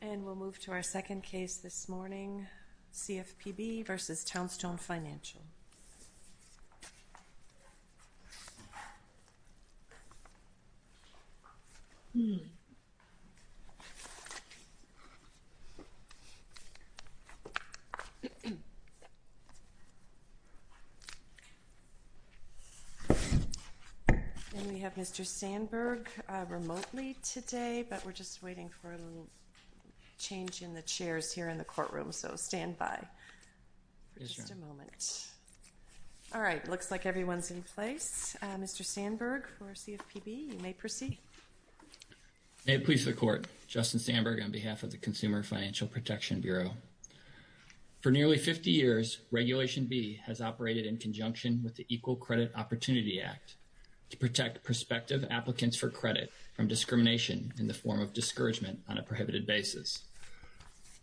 And we'll move to our second case this morning, CFPB v. Townstone Financial. And we have Mr. Sandberg remotely today, but we're just waiting for a little change in the chairs here in the courtroom, so stand by for just a moment. All right, looks like everyone's in place. Mr. Sandberg for CFPB, you may proceed. May it please the Court. Justin Sandberg on behalf of the Consumer Financial Protection Bureau. For nearly 50 years, Regulation B has operated in conjunction with the Equal Credit Opportunity Act to protect prospective applicants for credit from discrimination in the form of discouragement on a prohibited basis.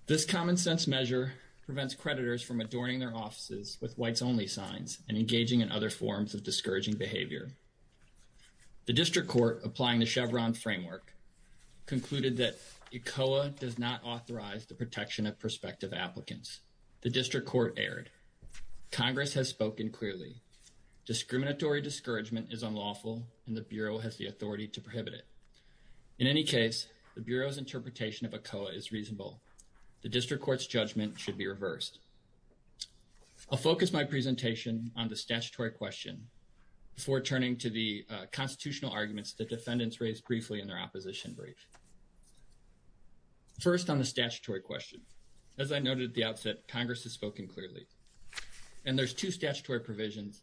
This common-sense measure prevents creditors from adorning their offices with whites-only signs and engaging in other forms of discouraging behavior. The District Court, applying the Chevron framework, concluded that ECOA does not authorize the protection of prospective applicants. The District Court erred. Congress has spoken clearly. Discriminatory discouragement is unlawful, and the Bureau has the authority to prohibit it. In any case, the Bureau's interpretation of ECOA is reasonable. The District Court's judgment should be reversed. I'll focus my presentation on the statutory question before turning to the constitutional arguments that defendants raised briefly in their opposition brief. First, on the statutory question. As I noted at the outset, Congress has spoken clearly. And there's two statutory provisions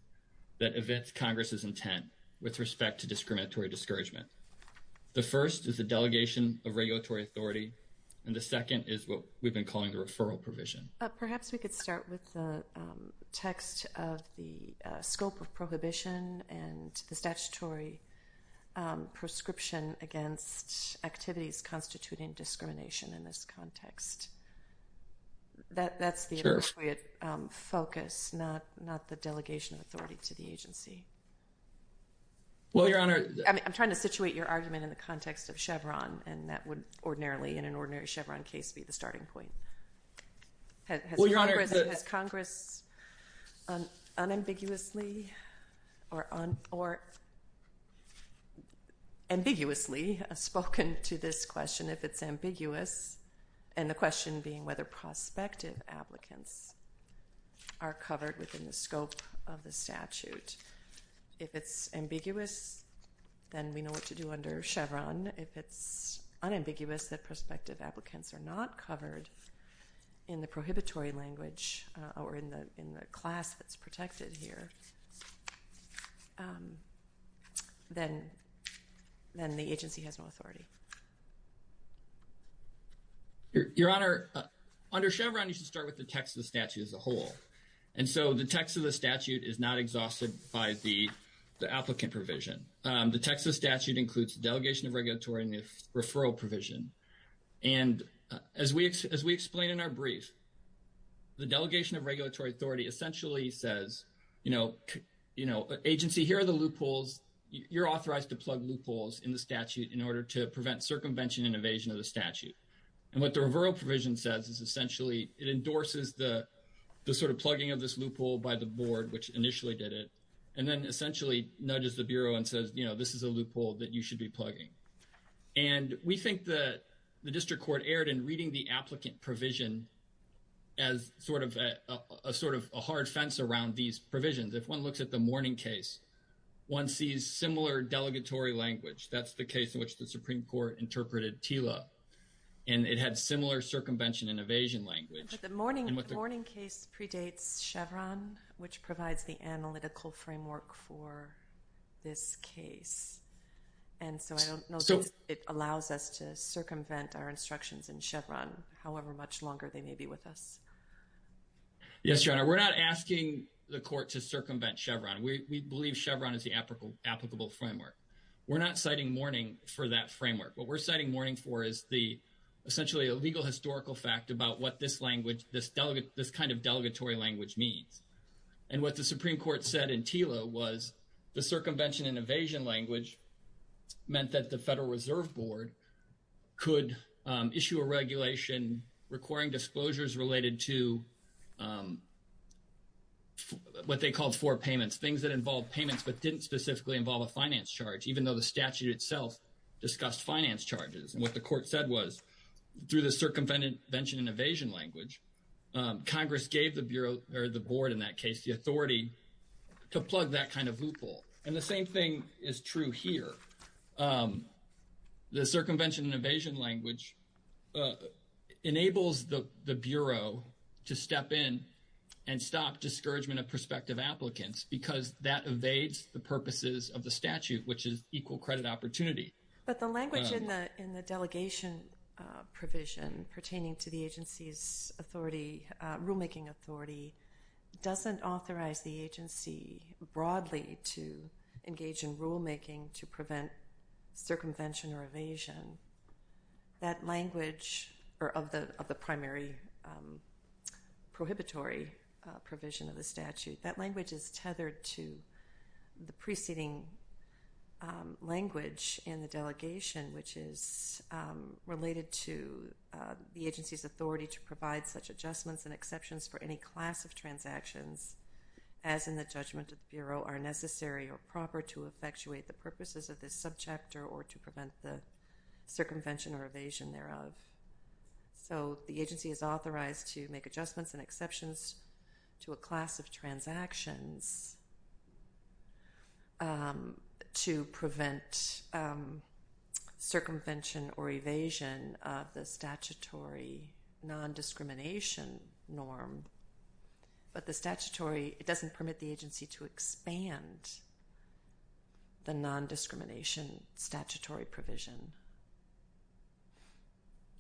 that evict Congress's intent with respect to discriminatory discouragement. The first is the delegation of regulatory authority, and the second is what we've been calling the referral provision. Perhaps we could start with the text of the scope of prohibition and the statutory prescription against activities constituting discrimination in this context. That's the appropriate focus, not the delegation of authority to the agency. I'm trying to situate your argument in the context of Chevron, and that would ordinarily, in an ordinary Chevron case, be the starting point. Has Congress unambiguously or ambiguously spoken to this question, if it's ambiguous? And the question being whether prospective applicants are covered within the scope of the statute. If it's ambiguous, then we know what to do under Chevron. If it's unambiguous that prospective applicants are not covered in the prohibitory language or in the class that's protected here, then the agency has no authority. Your Honor, under Chevron, you should start with the text of the statute as a whole. And so the text of the statute is not exhausted by the applicant provision. The text of the statute includes delegation of regulatory and referral provision. And as we explained in our brief, the delegation of regulatory authority essentially says, you know, agency, here are the loopholes. You're authorized to plug loopholes in the statute in order to prevent circumvention and evasion of the statute. And what the referral provision says is essentially it endorses the sort of plugging of this loophole by the board, which initially did it, and then essentially nudges the Bureau and says, you know, this is a loophole that you should be plugging. And we think that the district court erred in reading the applicant provision as sort of a hard fence around these provisions. If one looks at the Mourning case, one sees similar delegatory language. That's the case in which the Supreme Court interpreted TILA. And it had similar circumvention and evasion language. But the Mourning case predates Chevron, which provides the analytical framework for this case. And so I don't know if it allows us to circumvent our instructions in Chevron, however much longer they may be with us. Yes, Your Honor, we're not asking the court to circumvent Chevron. We believe Chevron is the applicable framework. We're not citing Mourning for that framework. What we're citing Mourning for is essentially a legal historical fact about what this kind of delegatory language means. And what the Supreme Court said in TILA was the circumvention and evasion language meant that the Federal Reserve Board could issue a regulation requiring disclosures related to what they called four payments, things that involved payments but didn't specifically involve a finance charge, even though the statute itself discussed finance charges. And what the court said was through the circumvention and evasion language, Congress gave the board, in that case, the authority to plug that kind of loophole. And the same thing is true here. The circumvention and evasion language enables the Bureau to step in and stop discouragement of prospective applicants because that evades the purposes of the statute, which is equal credit opportunity. But the language in the delegation provision pertaining to the agency's rulemaking authority doesn't authorize the agency broadly to engage in rulemaking to prevent circumvention or evasion. That language of the primary prohibitory provision of the statute, that language is tethered to the preceding language in the delegation, which is related to the agency's authority to provide such adjustments and exceptions for any class of transactions, as in the judgment of the Bureau, are necessary or proper to effectuate the purposes of this subchapter or to prevent the circumvention or evasion thereof. So the agency is authorized to make adjustments and exceptions to a class of transactions to prevent circumvention or evasion of the statutory non-discrimination norm. But the statutory, it doesn't permit the agency to expand the non-discrimination statutory provision.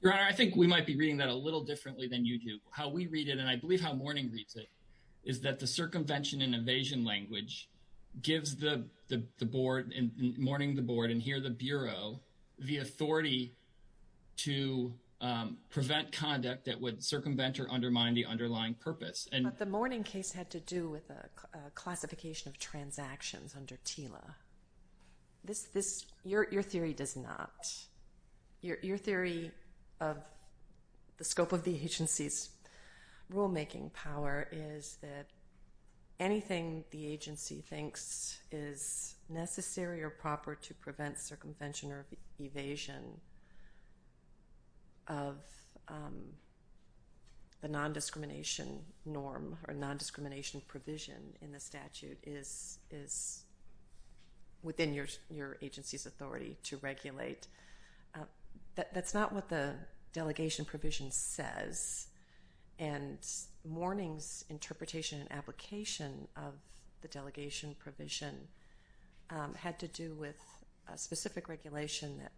Your Honor, I think we might be reading that a little differently than you do. How we read it, and I believe how Mourning reads it, is that the circumvention and evasion language gives Mourning the Board and here the Bureau the authority to prevent conduct that would circumvent or undermine the underlying purpose. But the Mourning case had to do with a classification of transactions under TILA. Your theory does not. Your theory of the scope of the agency's rulemaking power is that anything the agency thinks is necessary or proper to prevent circumvention or evasion of the non-discrimination norm or non-discrimination provision in the statute is within your agency's authority to regulate. That's not what the delegation provision says. And Mourning's interpretation and application of the delegation provision had to do with a specific regulation that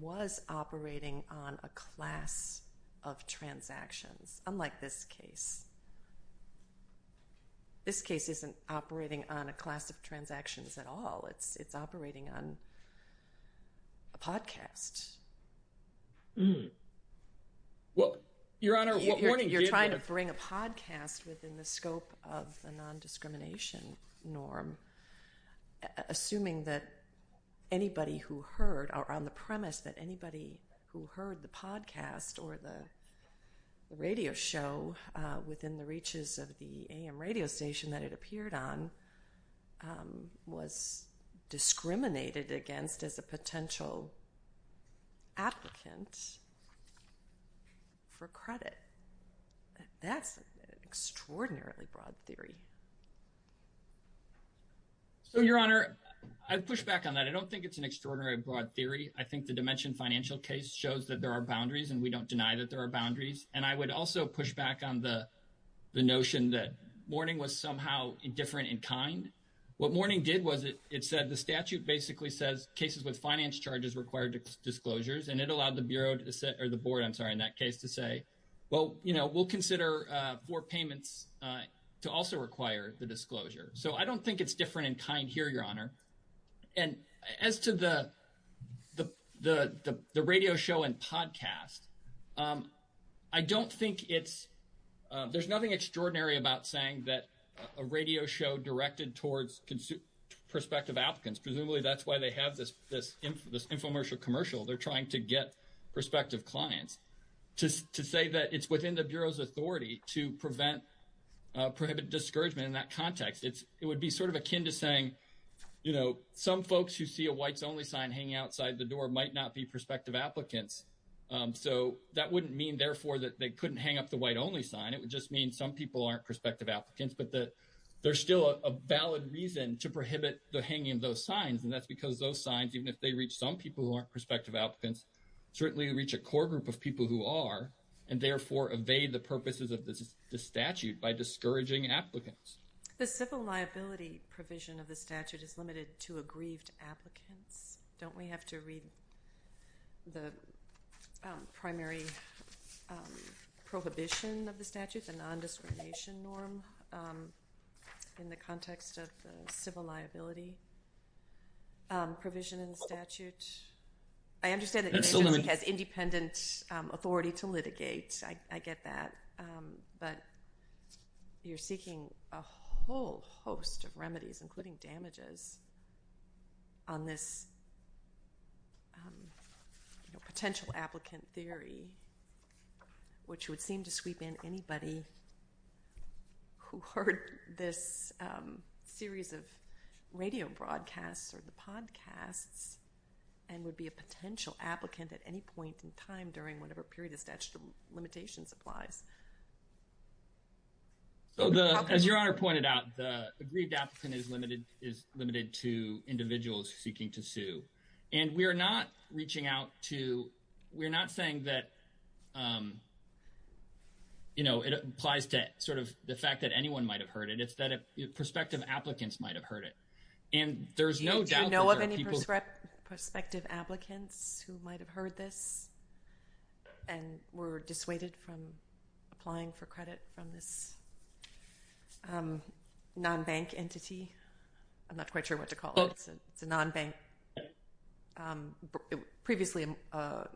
was operating on a class of transactions, unlike this case. This case isn't operating on a class of transactions at all. It's operating on a podcast. Well, Your Honor, what Mourning gave— You're trying to bring a podcast within the scope of the non-discrimination norm, assuming that anybody who heard—or on the premise that anybody who heard the podcast or the radio show within the reaches of the AM radio station that it appeared on was discriminated against as a potential applicant for credit. That's an extraordinarily broad theory. So, Your Honor, I'd push back on that. I don't think it's an extraordinarily broad theory. I think the dimension financial case shows that there are boundaries, and we don't deny that there are boundaries. And I would also push back on the notion that Mourning was somehow indifferent in kind. What Mourning did was it said the statute basically says cases with finance charges require disclosures, and it allowed the board in that case to say, well, you know, we'll consider four payments to also require the disclosure. So I don't think it's different in kind here, Your Honor. And as to the radio show and podcast, I don't think it's— there's nothing extraordinary about saying that a radio show directed towards prospective applicants. Presumably that's why they have this infomercial commercial. They're trying to get prospective clients. To say that it's within the Bureau's authority to prevent—prohibit discouragement in that context, it would be sort of akin to saying, you know, some folks who see a whites-only sign hanging outside the door might not be prospective applicants. So that wouldn't mean, therefore, that they couldn't hang up the white-only sign. It would just mean some people aren't prospective applicants. But there's still a valid reason to prohibit the hanging of those signs, and that's because those signs, even if they reach some people who aren't prospective applicants, certainly reach a core group of people who are, and therefore evade the purposes of the statute by discouraging applicants. The civil liability provision of the statute is limited to aggrieved applicants. Don't we have to read the primary prohibition of the statute, the nondiscrimination norm in the context of the civil liability provision in the statute? I understand that the agency has independent authority to litigate. I get that. But you're seeking a whole host of remedies, including damages, on this potential applicant theory, which would seem to sweep in anybody who heard this series of radio broadcasts or the podcasts and would be a potential applicant at any point in time during whatever period the statute of limitations applies. So as Your Honor pointed out, the aggrieved applicant is limited to individuals seeking to sue. And we're not saying that it applies to sort of the fact that anyone might have heard it. It's that prospective applicants might have heard it. Do you know of any prospective applicants who might have heard this and were dissuaded from applying for credit from this nonbank entity? I'm not quite sure what to call it. It's a nonbank previously a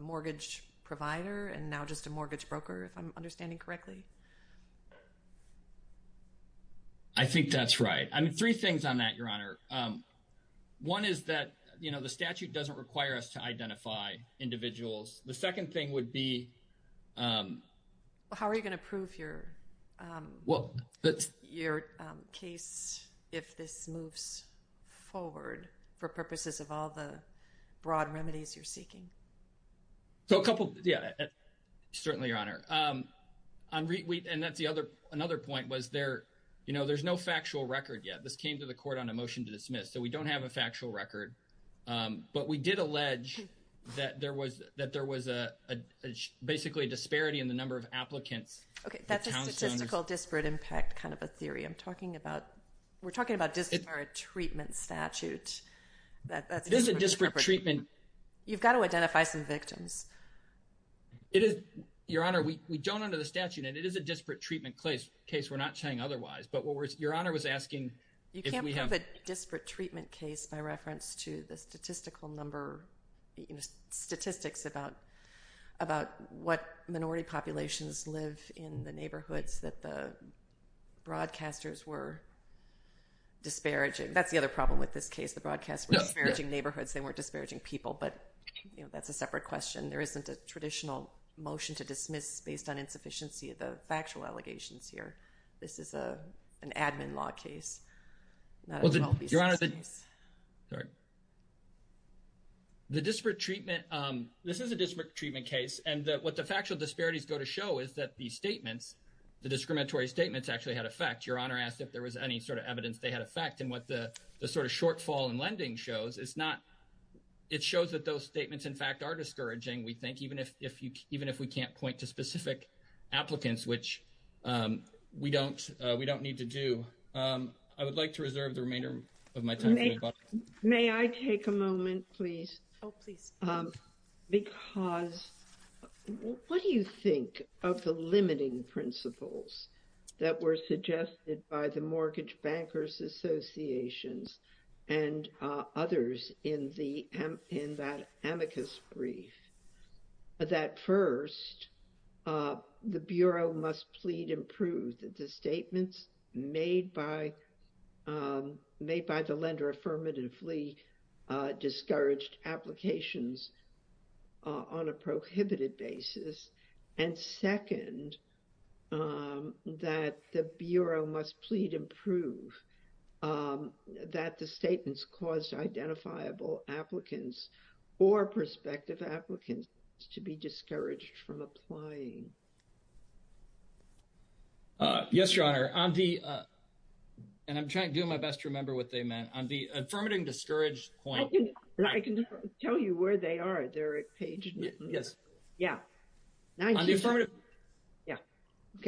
mortgage provider and now just a mortgage broker, if I'm understanding correctly. I think that's right. I mean, three things on that, Your Honor. One is that the statute doesn't require us to identify individuals. The second thing would be. How are you going to prove your case if this moves forward for purposes of all the broad remedies you're seeking? So a couple. Yeah, certainly, Your Honor. And that's another point was there's no factual record yet. This came to the court on a motion to dismiss. So we don't have a factual record. But we did allege that there was basically a disparity in the number of applicants. Okay, that's a statistical disparate impact kind of a theory. We're talking about disparate treatment statute. This is a disparate treatment. You've got to identify some victims. Your Honor, we don't under the statute. And it is a disparate treatment case. We're not saying otherwise. But Your Honor was asking if we have. You can't have a disparate treatment case by reference to the statistical number. Statistics about what minority populations live in the neighborhoods that the broadcasters were disparaging. That's the other problem with this case. The broadcasters were disparaging neighborhoods. They weren't disparaging people. But that's a separate question. There isn't a traditional motion to dismiss based on insufficiency of the factual allegations here. This is an admin law case. Your Honor, the disparate treatment, this is a disparate treatment case. And what the factual disparities go to show is that the statements, the discriminatory statements actually had effect. Your Honor asked if there was any sort of evidence they had effect. And what the sort of shortfall in lending shows, it's not, it shows that those statements, in fact, are discouraging. We think even if we can't point to specific applicants, which we don't need to do, I would like to reserve the remainder of my time. May I take a moment, please? Oh, please. Because what do you think of the limiting principles that were suggested by the Mortgage Bankers Associations and others in that amicus brief? That first, the Bureau must plead and prove that the statements made by the lender affirmatively discouraged applications on a prohibited basis. And second, that the Bureau must plead and prove that the statements caused identifiable applicants or prospective applicants to be discouraged from applying. Yes, Your Honor. On the, and I'm trying to do my best to remember what they meant, on the affirmative discouraged point. I can tell you where they are, Derek Page. Yes. Yeah. Yeah. I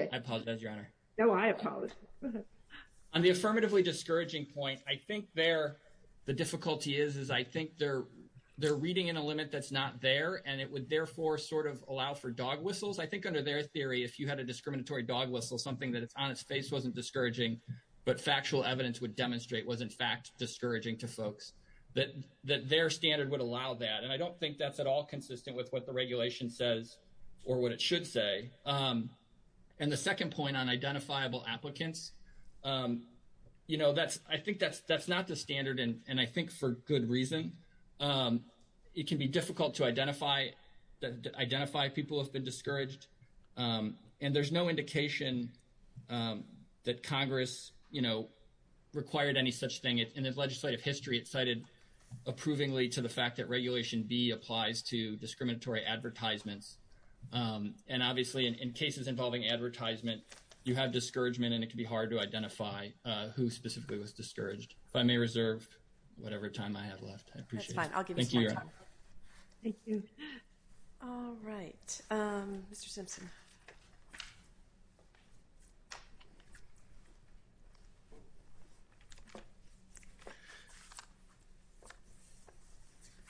apologize, Your Honor. No, I apologize. Go ahead. On the affirmatively discouraging point, I think there, the difficulty is, is I think they're reading in a limit that's not there, and it would therefore sort of allow for dog whistles. I think under their theory, if you had a discriminatory dog whistle, something that it's on its face wasn't discouraging, but factual evidence would demonstrate was, in fact, discouraging to folks, that their standard would allow that. And I don't think that's at all consistent with what the regulation says or what it should say. And the second point on identifiable applicants, you know, that's, I think that's, that's not the standard, and I think for good reason. It can be difficult to identify, identify people who have been discouraged. And there's no indication that Congress, you know, required any such thing. In its legislative history, it cited approvingly to the fact that Regulation B applies to discriminatory advertisements. And obviously, in cases involving advertisement, you have discouragement, and it can be hard to identify who specifically was discouraged. If I may reserve whatever time I have left. I appreciate it. That's fine. I'll give you some more time. Thank you, Your Honor. Thank you. All right. Mr. Simpson.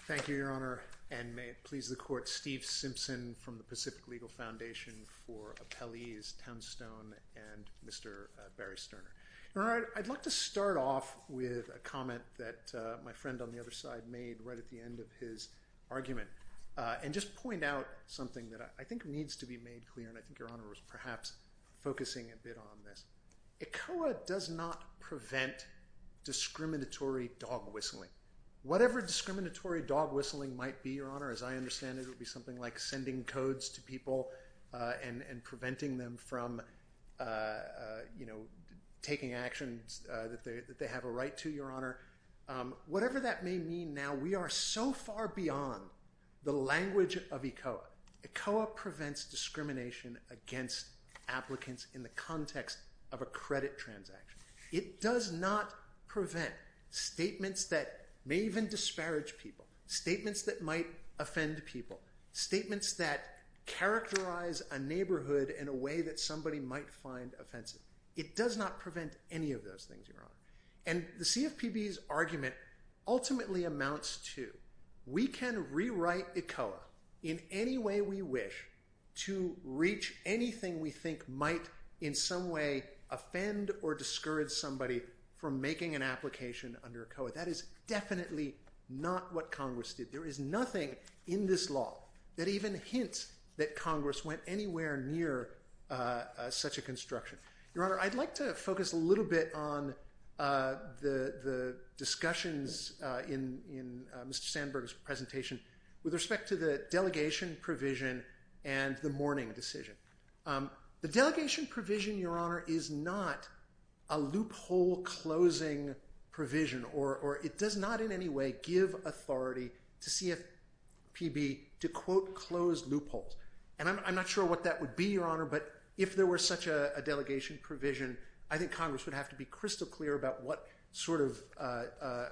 Thank you, Your Honor. And may it please the Court, Steve Simpson from the Pacific Legal Foundation for Appellees, Townstone, and Mr. Barry Sterner. Your Honor, I'd like to start off with a comment that my friend on the other side made right at the end of his argument, and just point out something that I think needs to be made clear, and I think Your Honor was perhaps focusing a bit on this. ECOA does not prevent discriminatory dog whistling. Whatever discriminatory dog whistling might be, Your Honor, as I understand it, it would be something like sending codes to people and preventing them from taking actions that they have a right to, Your Honor. Whatever that may mean now, we are so far beyond the language of ECOA. ECOA prevents discrimination against applicants in the context of a credit transaction. It does not prevent statements that may even disparage people, statements that might offend people, statements that characterize a neighborhood in a way that somebody might find offensive. It does not prevent any of those things, Your Honor. And the CFPB's argument ultimately amounts to we can rewrite ECOA in any way we wish to reach anything we think might in some way offend or discourage somebody from making an application under ECOA. That is definitely not what Congress did. There is nothing in this law that even hints that Congress went anywhere near such a construction. Your Honor, I'd like to focus a little bit on the discussions in Mr. Sandberg's presentation with respect to the delegation provision and the mourning decision. The delegation provision, Your Honor, is not a loophole closing provision, or it does not in any way give authority to CFPB to, quote, close loopholes. And I'm not sure what that would be, Your Honor, but if there were such a delegation provision, I think Congress would have to be crystal clear about what sort of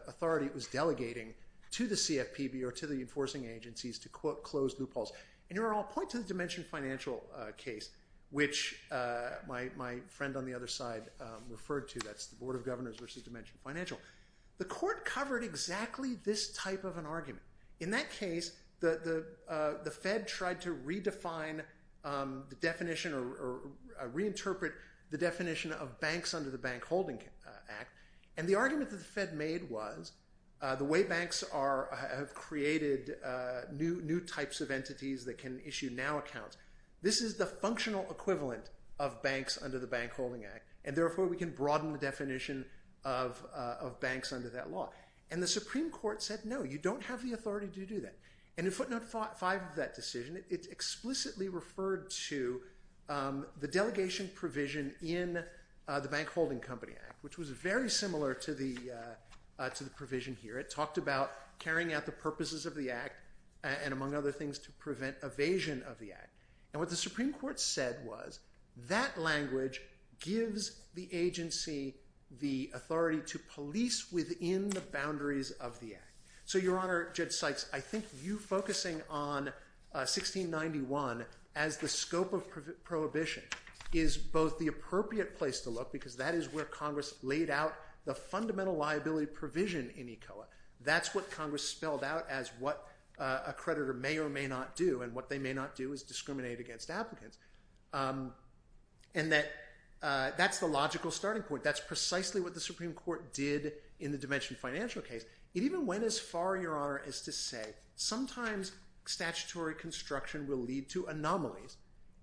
authority it was delegating to the CFPB or to the enforcing agencies to, quote, close loopholes. And Your Honor, I'll point to the Dimension Financial case, which my friend on the other side referred to. That's the Board of Governors versus Dimension Financial. The court covered exactly this type of an argument. In that case, the Fed tried to redefine the definition or reinterpret the definition of banks under the Bank Holding Act. And the argument that the Fed made was the way banks have created new types of entities that can issue now accounts, this is the functional equivalent of banks under the Bank Holding Act, and therefore we can broaden the definition of banks under that law. And the Supreme Court said, no, you don't have the authority to do that. And in footnote 5 of that decision, it explicitly referred to the delegation provision in the Bank Holding Company Act, which was very similar to the provision here. It talked about carrying out the purposes of the act and, among other things, to prevent evasion of the act. And what the Supreme Court said was that language gives the agency the authority to police within the boundaries of the act. So, Your Honor, Judge Sykes, I think you focusing on 1691 as the scope of prohibition is both the appropriate place to look, because that is where Congress laid out the fundamental liability provision in ECOA. That's what Congress spelled out as what a creditor may or may not do, and what they may not do is discriminate against applicants. And that's the logical starting point. That's precisely what the Supreme Court did in the Dimension Financial case. It even went as far, Your Honor, as to say sometimes statutory construction will lead to anomalies,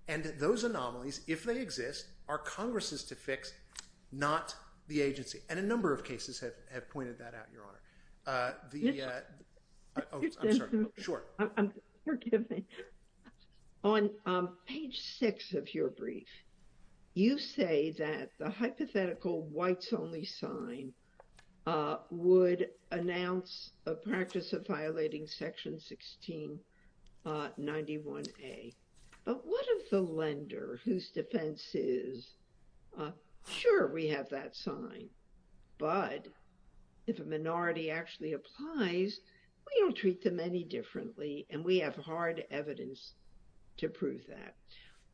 and those anomalies, if they exist, are Congress's to fix, not the agency. And a number of cases have pointed that out, Your Honor. Oh, I'm sorry. Sure. Forgive me. On page 6 of your brief, you say that the hypothetical whites-only sign would announce a practice of violating Section 1691A. But what if the lender whose defense is, sure, we have that sign, but if a minority actually applies, we don't treat them any differently and we have hard evidence to prove that.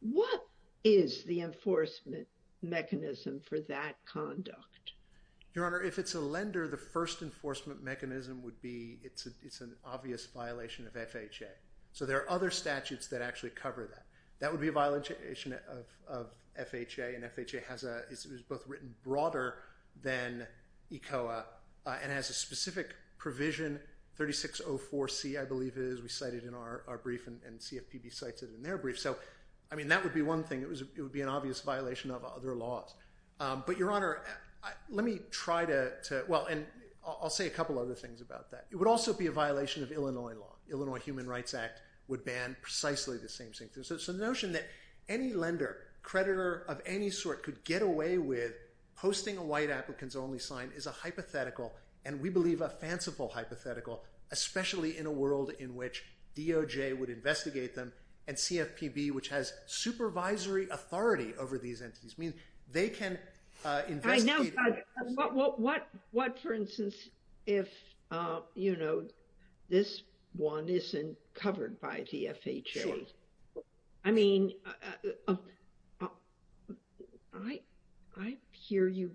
What is the enforcement mechanism for that conduct? Your Honor, if it's a lender, the first enforcement mechanism would be it's an obvious violation of FHA. So there are other statutes that actually cover that. That would be a violation of FHA, and FHA is both written broader than ECOA and has a specific provision, 3604C, I believe it is. We cite it in our brief, and CFPB cites it in their brief. So, I mean, that would be one thing. It would be an obvious violation of other laws. But, Your Honor, let me try to – well, and I'll say a couple other things about that. It would also be a violation of Illinois law. Illinois Human Rights Act would ban precisely the same thing. So the notion that any lender, creditor of any sort, could get away with posting a white applicants-only sign is a hypothetical, and we believe a fanciful hypothetical, especially in a world in which DOJ would investigate them, and CFPB, which has supervisory authority over these entities, means they can investigate. What, for instance, if, you know, this one isn't covered by the FHA? Sure. I mean, I hear you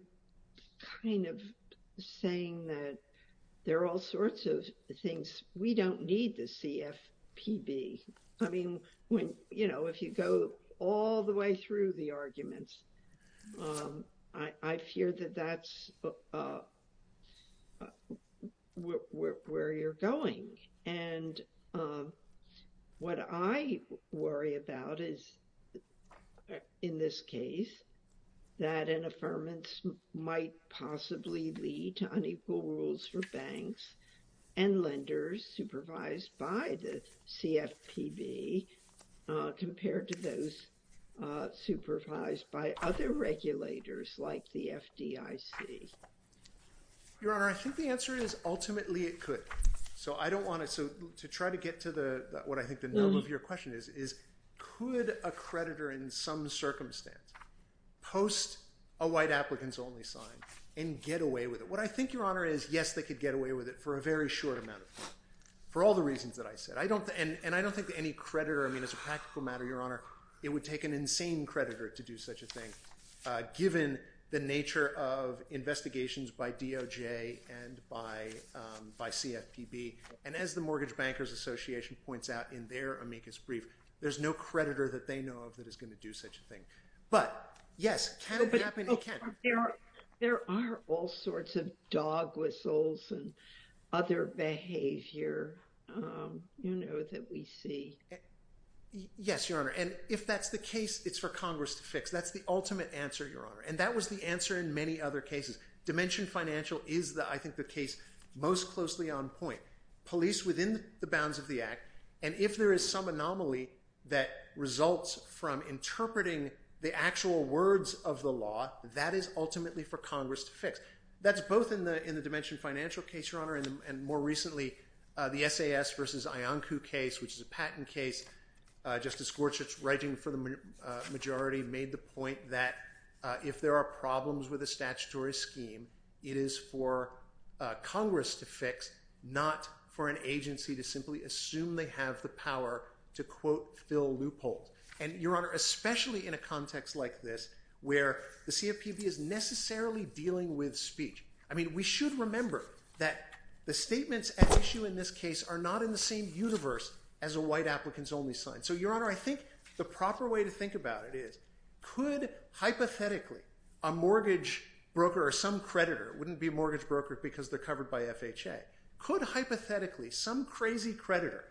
kind of saying that there are all sorts of things. We don't need the CFPB. I mean, you know, if you go all the way through the arguments, I fear that that's where you're going. And what I worry about is, in this case, that an affirmance might possibly lead to unequal rules for banks and lenders supervised by the CFPB compared to those supervised by other regulators like the FDIC. Your Honor, I think the answer is ultimately it could. So to try to get to what I think the nub of your question is, is could a creditor in some circumstance post a white applicants-only sign and get away with it? What I think, Your Honor, is yes, they could get away with it for a very short amount of time for all the reasons that I said. And I don't think that any creditor, I mean, as a practical matter, Your Honor, it would take an insane creditor to do such a thing, given the nature of investigations by DOJ and by CFPB. And as the Mortgage Bankers Association points out in their amicus brief, there's no creditor that they know of that is going to do such a thing. But yes, it can happen. There are all sorts of dog whistles and other behavior that we see. Yes, Your Honor. And if that's the case, it's for Congress to fix. That's the ultimate answer, Your Honor. And that was the answer in many other cases. Dimension Financial is, I think, the case most closely on point. Police within the bounds of the act. And if there is some anomaly that results from interpreting the actual words of the law, that is ultimately for Congress to fix. That's both in the Dimension Financial case, Your Honor, and more recently, the SAS versus Ioncu case, which is a patent case. Justice Gorsuch, writing for the majority, made the point that if there are problems with a statutory scheme, it is for Congress to fix, not for an agency to simply assume they have the power to, quote, fill loopholes. And, Your Honor, especially in a context like this, where the CFPB is necessarily dealing with speech. I mean, we should remember that the statements at issue in this case are not in the same universe as a white applicants only sign. So, Your Honor, I think the proper way to think about it is, could, hypothetically, a mortgage broker or some creditor, wouldn't be a mortgage broker because they're covered by FHA. Could, hypothetically, some crazy creditor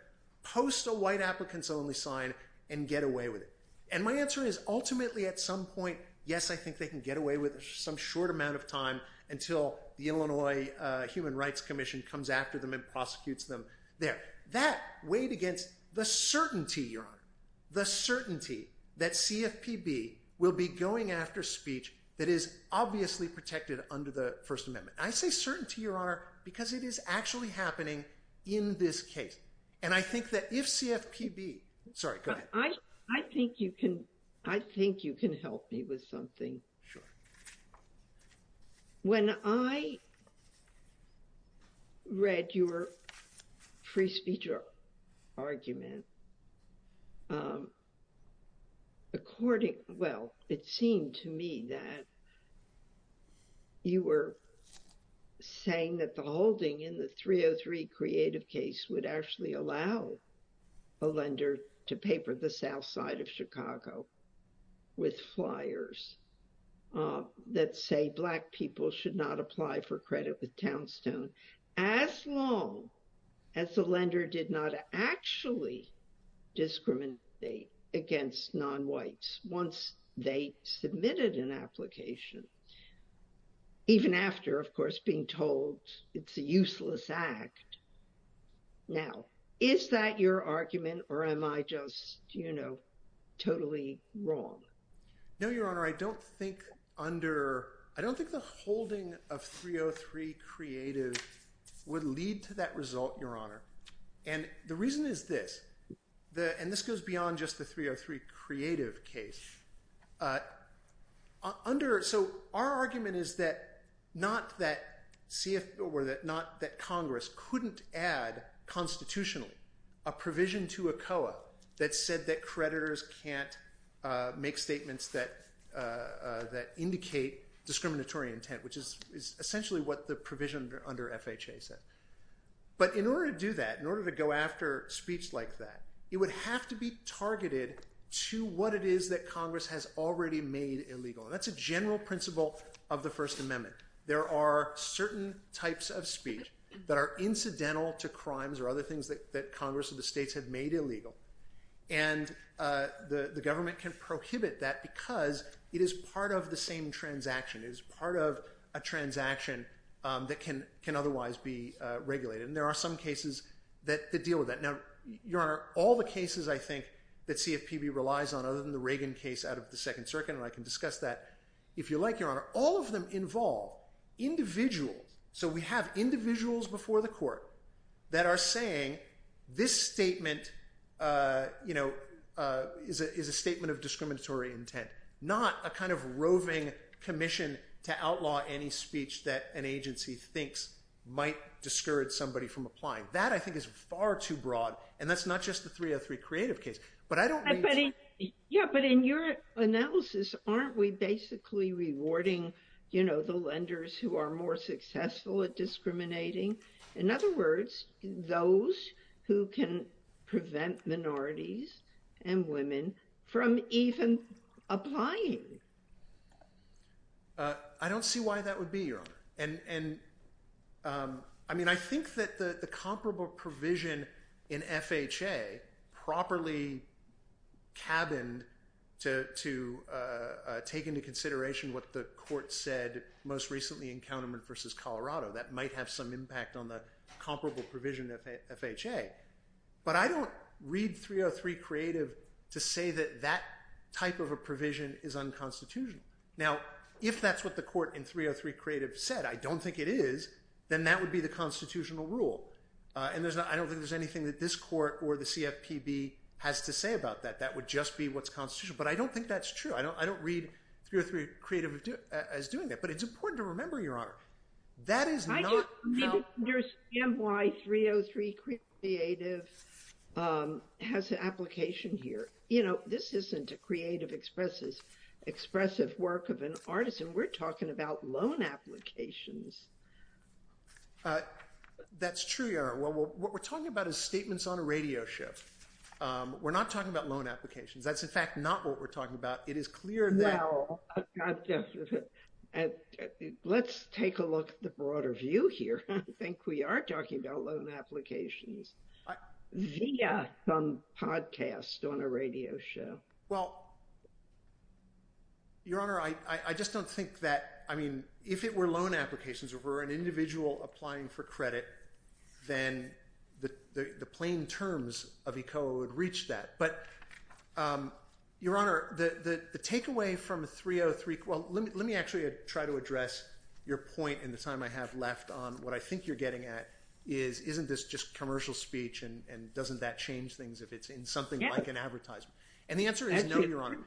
post a white applicants only sign and get away with it? And my answer is, ultimately, at some point, yes, I think they can get away with some short amount of time until the Illinois Human Rights Commission comes after them and prosecutes them. There. That weighed against the certainty, Your Honor, the certainty that CFPB will be going after speech that is obviously protected under the First Amendment. I say certainty, Your Honor, because it is actually happening in this case. And I think that if CFPB, sorry, go ahead. I think you can, I think you can help me with something. Sure. When I read your free speech argument, according, well, it seemed to me that you were saying that the holding in the 303 creative case would actually allow a lender to paper the south side of Chicago with flyers that say black people should not apply for credit with Townstone as long as the lender did not actually discriminate against non-whites once they submitted an application. Even after, of course, being told it's a useless act. Now, is that your argument or am I just, you know, totally wrong? No, Your Honor, I don't think under, I don't think the holding of 303 creative would lead to that result, Your Honor. And the reason is this, and this goes beyond just the 303 creative case, under, so our argument is that, not that Congress couldn't add constitutionally a provision to a COA that said that creditors can't make statements that indicate discriminatory intent, which is essentially what the provision under FHA says. But in order to do that, in order to go after speech like that, it would have to be targeted to what it is that Congress has already made illegal. And that's a general principle of the First Amendment. There are certain types of speech that are incidental to crimes or other things that Congress or the states have made illegal. And the government can prohibit that because it is part of the same transaction. It is part of a transaction that can otherwise be regulated. And there are some cases that deal with that. Now, Your Honor, all the cases I think that CFPB relies on other than the Reagan case out of the Second Circuit, and I can discuss that if you like, Your Honor, all of them involve individuals. So we have individuals before the court that are saying this statement, you know, is a statement of discriminatory intent, not a kind of roving commission to outlaw any speech that an agency thinks might discourage somebody from applying. That I think is far too broad. And that's not just the 303 creative case. But in your analysis, aren't we basically rewarding, you know, the lenders who are more successful at discriminating? In other words, those who can prevent minorities and women from even applying? I don't see why that would be, Your Honor. I mean, I think that the comparable provision in FHA properly cabined to take into consideration what the court said most recently in Kahneman v. Colorado. That might have some impact on the comparable provision of FHA. But I don't read 303 creative to say that that type of a provision is unconstitutional. Now, if that's what the court in 303 creative said, I don't think it is, then that would be the constitutional rule. And I don't think there's anything that this court or the CFPB has to say about that. That would just be what's constitutional. But I don't think that's true. I don't read 303 creative as doing that. But it's important to remember, Your Honor, that is not. I don't understand why 303 creative has an application here. You know, this isn't a creative expressive work of an artist. And we're talking about loan applications. That's true, Your Honor. Well, what we're talking about is statements on a radio show. We're not talking about loan applications. That's, in fact, not what we're talking about. It is clear that. Let's take a look at the broader view here. I think we are talking about loan applications via some podcast on a radio show. Well, Your Honor, I just don't think that, I mean, if it were loan applications, if it were an individual applying for credit, then the plain terms of ECOA would reach that. But, Your Honor, the takeaway from 303, well, let me actually try to address your point in the time I have left on what I think you're getting at is, isn't this just commercial speech? And doesn't that change things if it's in something like an advertisement? And the answer is no, Your Honor.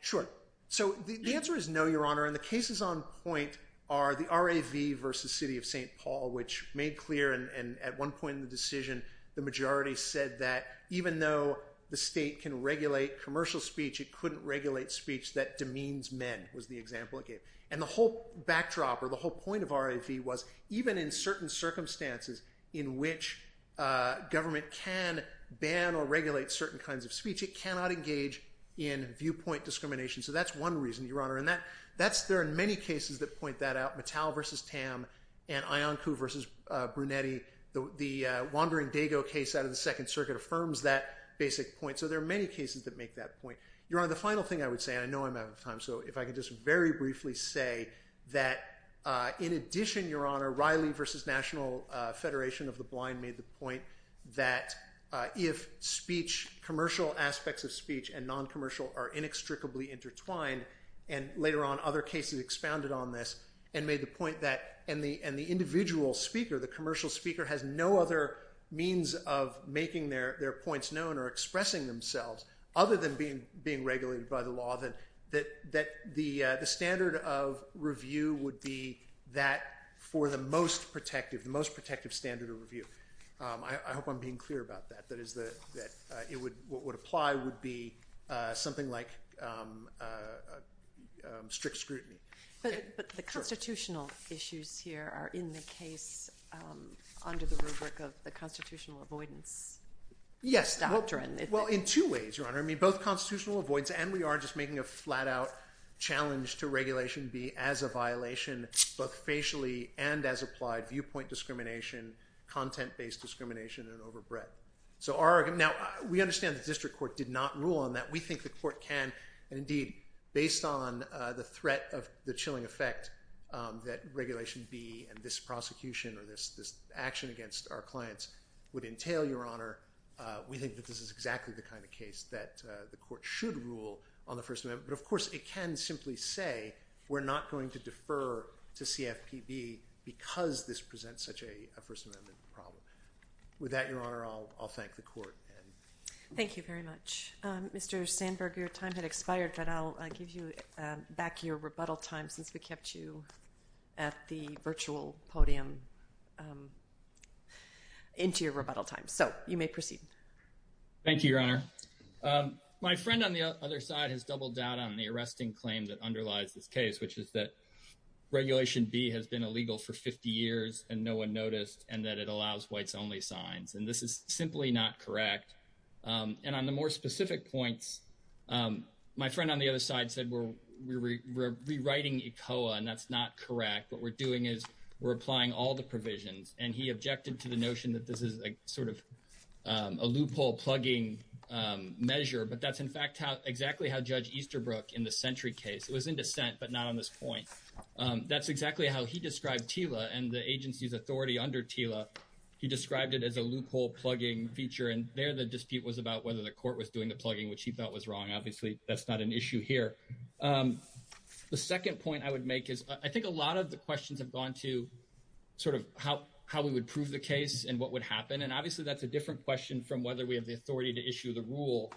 Sure. So the answer is no, Your Honor. And the cases on point are the RAV versus City of St. Paul, which made clear, and at one point in the decision, the majority said that even though the state can regulate commercial speech, it couldn't regulate speech that demeans men, was the example it gave. And the whole backdrop or the whole point of RAV was, even in certain circumstances in which government can ban or regulate certain kinds of speech, it cannot engage in viewpoint discrimination. So that's one reason, Your Honor. And there are many cases that point that out. Mattel versus Tam and Iancu versus Brunetti. The Wandering Dago case out of the Second Circuit affirms that basic point. So there are many cases that make that point. Your Honor, the final thing I would say, and I know I'm out of time, so if I could just very briefly say that in addition, Your Honor, Riley versus National Federation of the Blind made the point that if speech, commercial aspects of speech and non-commercial are inextricably intertwined, and later on other cases expounded on this, and made the point that, and the individual speaker, the commercial speaker, has no other means of making their points known or expressing themselves, other than being regulated by the law, that the standard of review would be that for the most protective, the most protective standard of review. I hope I'm being clear about that. That is that what would apply would be something like strict scrutiny. But the constitutional issues here are in the case under the rubric of the constitutional avoidance doctrine. Well, in two ways, Your Honor. I mean, both constitutional avoidance, and we are just making a flat-out challenge to Regulation B as a violation, both facially and as applied, viewpoint discrimination, content-based discrimination, and overbred. Now, we understand the district court did not rule on that. We think the court can, and indeed, based on the threat of the chilling effect that Regulation B and this prosecution or this action against our clients would entail, Your Honor, we think that this is exactly the kind of case that the court should rule on the First Amendment. But, of course, it can simply say we're not going to defer to CFPB because this presents such a First Amendment problem. With that, Your Honor, I'll thank the court. Thank you very much. Mr. Sandberg, your time had expired, but I'll give you back your rebuttal time since we kept you at the virtual podium into your rebuttal time. So you may proceed. Thank you, Your Honor. My friend on the other side has doubled down on the arresting claim that underlies this case, which is that Regulation B has been illegal for 50 years and no one noticed and that it allows whites-only signs, and this is simply not correct. And on the more specific points, my friend on the other side said we're rewriting ECOA, and that's not correct. What we're doing is we're applying all the provisions, and he objected to the notion that this is sort of a loophole plugging measure, but that's, in fact, exactly how Judge Easterbrook in the Century case. It was in dissent, but not on this point. That's exactly how he described TILA and the agency's authority under TILA. He described it as a loophole plugging feature, and there the dispute was about whether the court was doing the plugging, which he thought was wrong. Obviously, that's not an issue here. The second point I would make is I think a lot of the questions have gone to sort of how we would prove the case and what would happen. And obviously, that's a different question from whether we have the authority to issue the rule,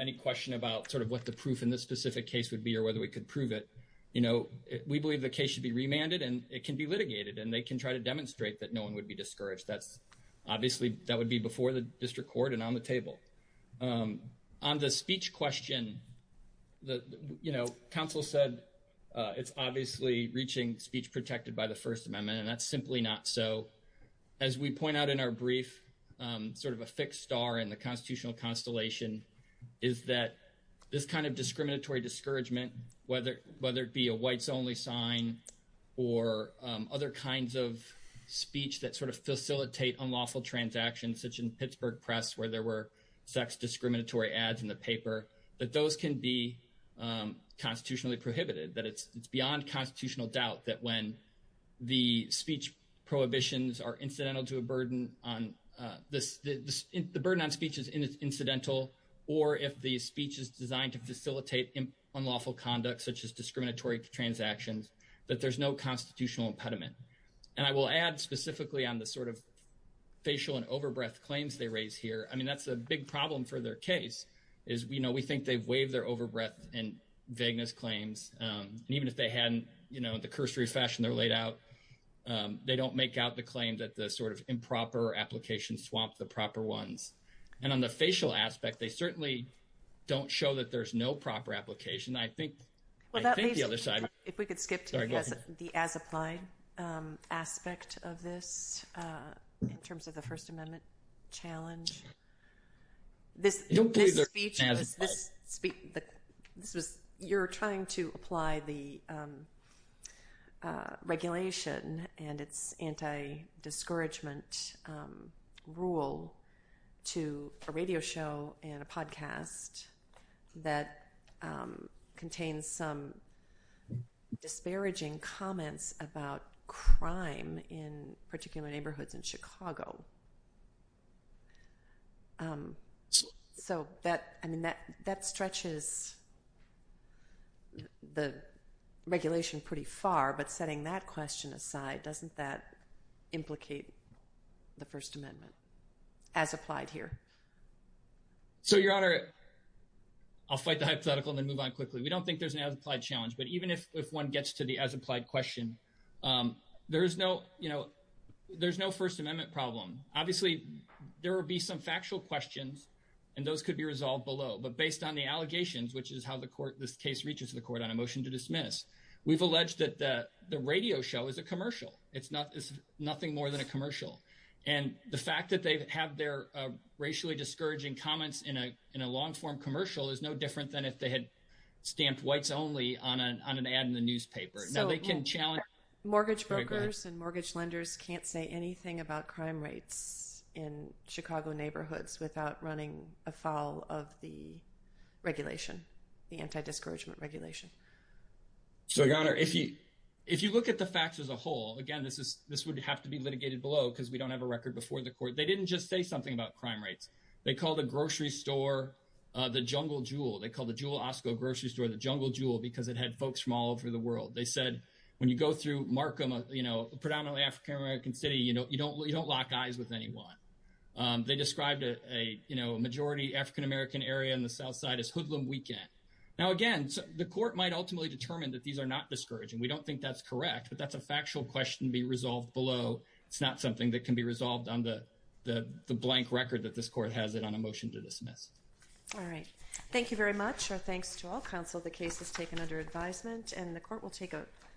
any question about sort of what the proof in this specific case would be or whether we could prove it. You know, we believe the case should be remanded, and it can be litigated, and they can try to demonstrate that no one would be discouraged. Obviously, that would be before the district court and on the table. On the speech question, you know, counsel said it's obviously reaching speech protected by the First Amendment, and that's simply not so. As we point out in our brief, sort of a fixed star in the constitutional constellation is that this kind of discriminatory discouragement, whether it be a whites-only sign or other kinds of speech that sort of facilitate unlawful transactions, such in Pittsburgh Press where there were sex discriminatory ads in the paper, that those can be constitutionally prohibited, that it's beyond constitutional doubt that when the speech prohibitions are incidental to a burden on – the burden on speech is incidental, or if the speech is designed to facilitate unlawful conduct such as discriminatory transactions, that there's no constitutional impediment. And I will add specifically on the sort of facial and over-breath claims they raise here. I mean, that's a big problem for their case is, you know, we think they've waived their over-breath and vagueness claims. And even if they hadn't, you know, the cursory fashion they're laid out, they don't make out the claim that the sort of improper applications swamp the proper ones. And on the facial aspect, they certainly don't show that there's no proper application. I think – I think the other side – If we could skip to the as-applied aspect of this in terms of the First Amendment challenge. This speech was – you're trying to apply the regulation and its anti-discouragement rule to a radio show and a podcast that contains some disparaging comments about crime in particular neighborhoods in Chicago. So that – I mean, that stretches the regulation pretty far. But setting that question aside, doesn't that implicate the First Amendment as applied here? So, Your Honor, I'll fight the hypothetical and then move on quickly. We don't think there's an as-applied challenge. But even if one gets to the as-applied question, there is no – you know, there's no First Amendment problem. Obviously, there will be some factual questions, and those could be resolved below. But based on the allegations, which is how the court – this case reaches the court on a motion to dismiss, we've alleged that the radio show is a commercial. It's nothing more than a commercial. And the fact that they have their racially discouraging comments in a long-form commercial is no different than if they had stamped whites only on an ad in the newspaper. Now, they can challenge – Mortgage brokers and mortgage lenders can't say anything about crime rates in Chicago neighborhoods without running afoul of the regulation, the anti-discouragement regulation. So, Your Honor, if you look at the facts as a whole – again, this would have to be litigated below because we don't have a record before the court. They didn't just say something about crime rates. They called a grocery store the Jungle Jewel. They called the Jewel Osco grocery store the Jungle Jewel because it had folks from all over the world. They said when you go through Markham, a predominantly African-American city, you don't lock eyes with anyone. They described a majority African-American area on the south side as hoodlum weekend. Now, again, the court might ultimately determine that these are not discouraging. We don't think that's correct, but that's a factual question to be resolved below. It's not something that can be resolved on the blank record that this court has it on a motion to dismiss. All right. Thank you very much. Our thanks to all counsel. The case is taken under advisement, and the court will take a vote.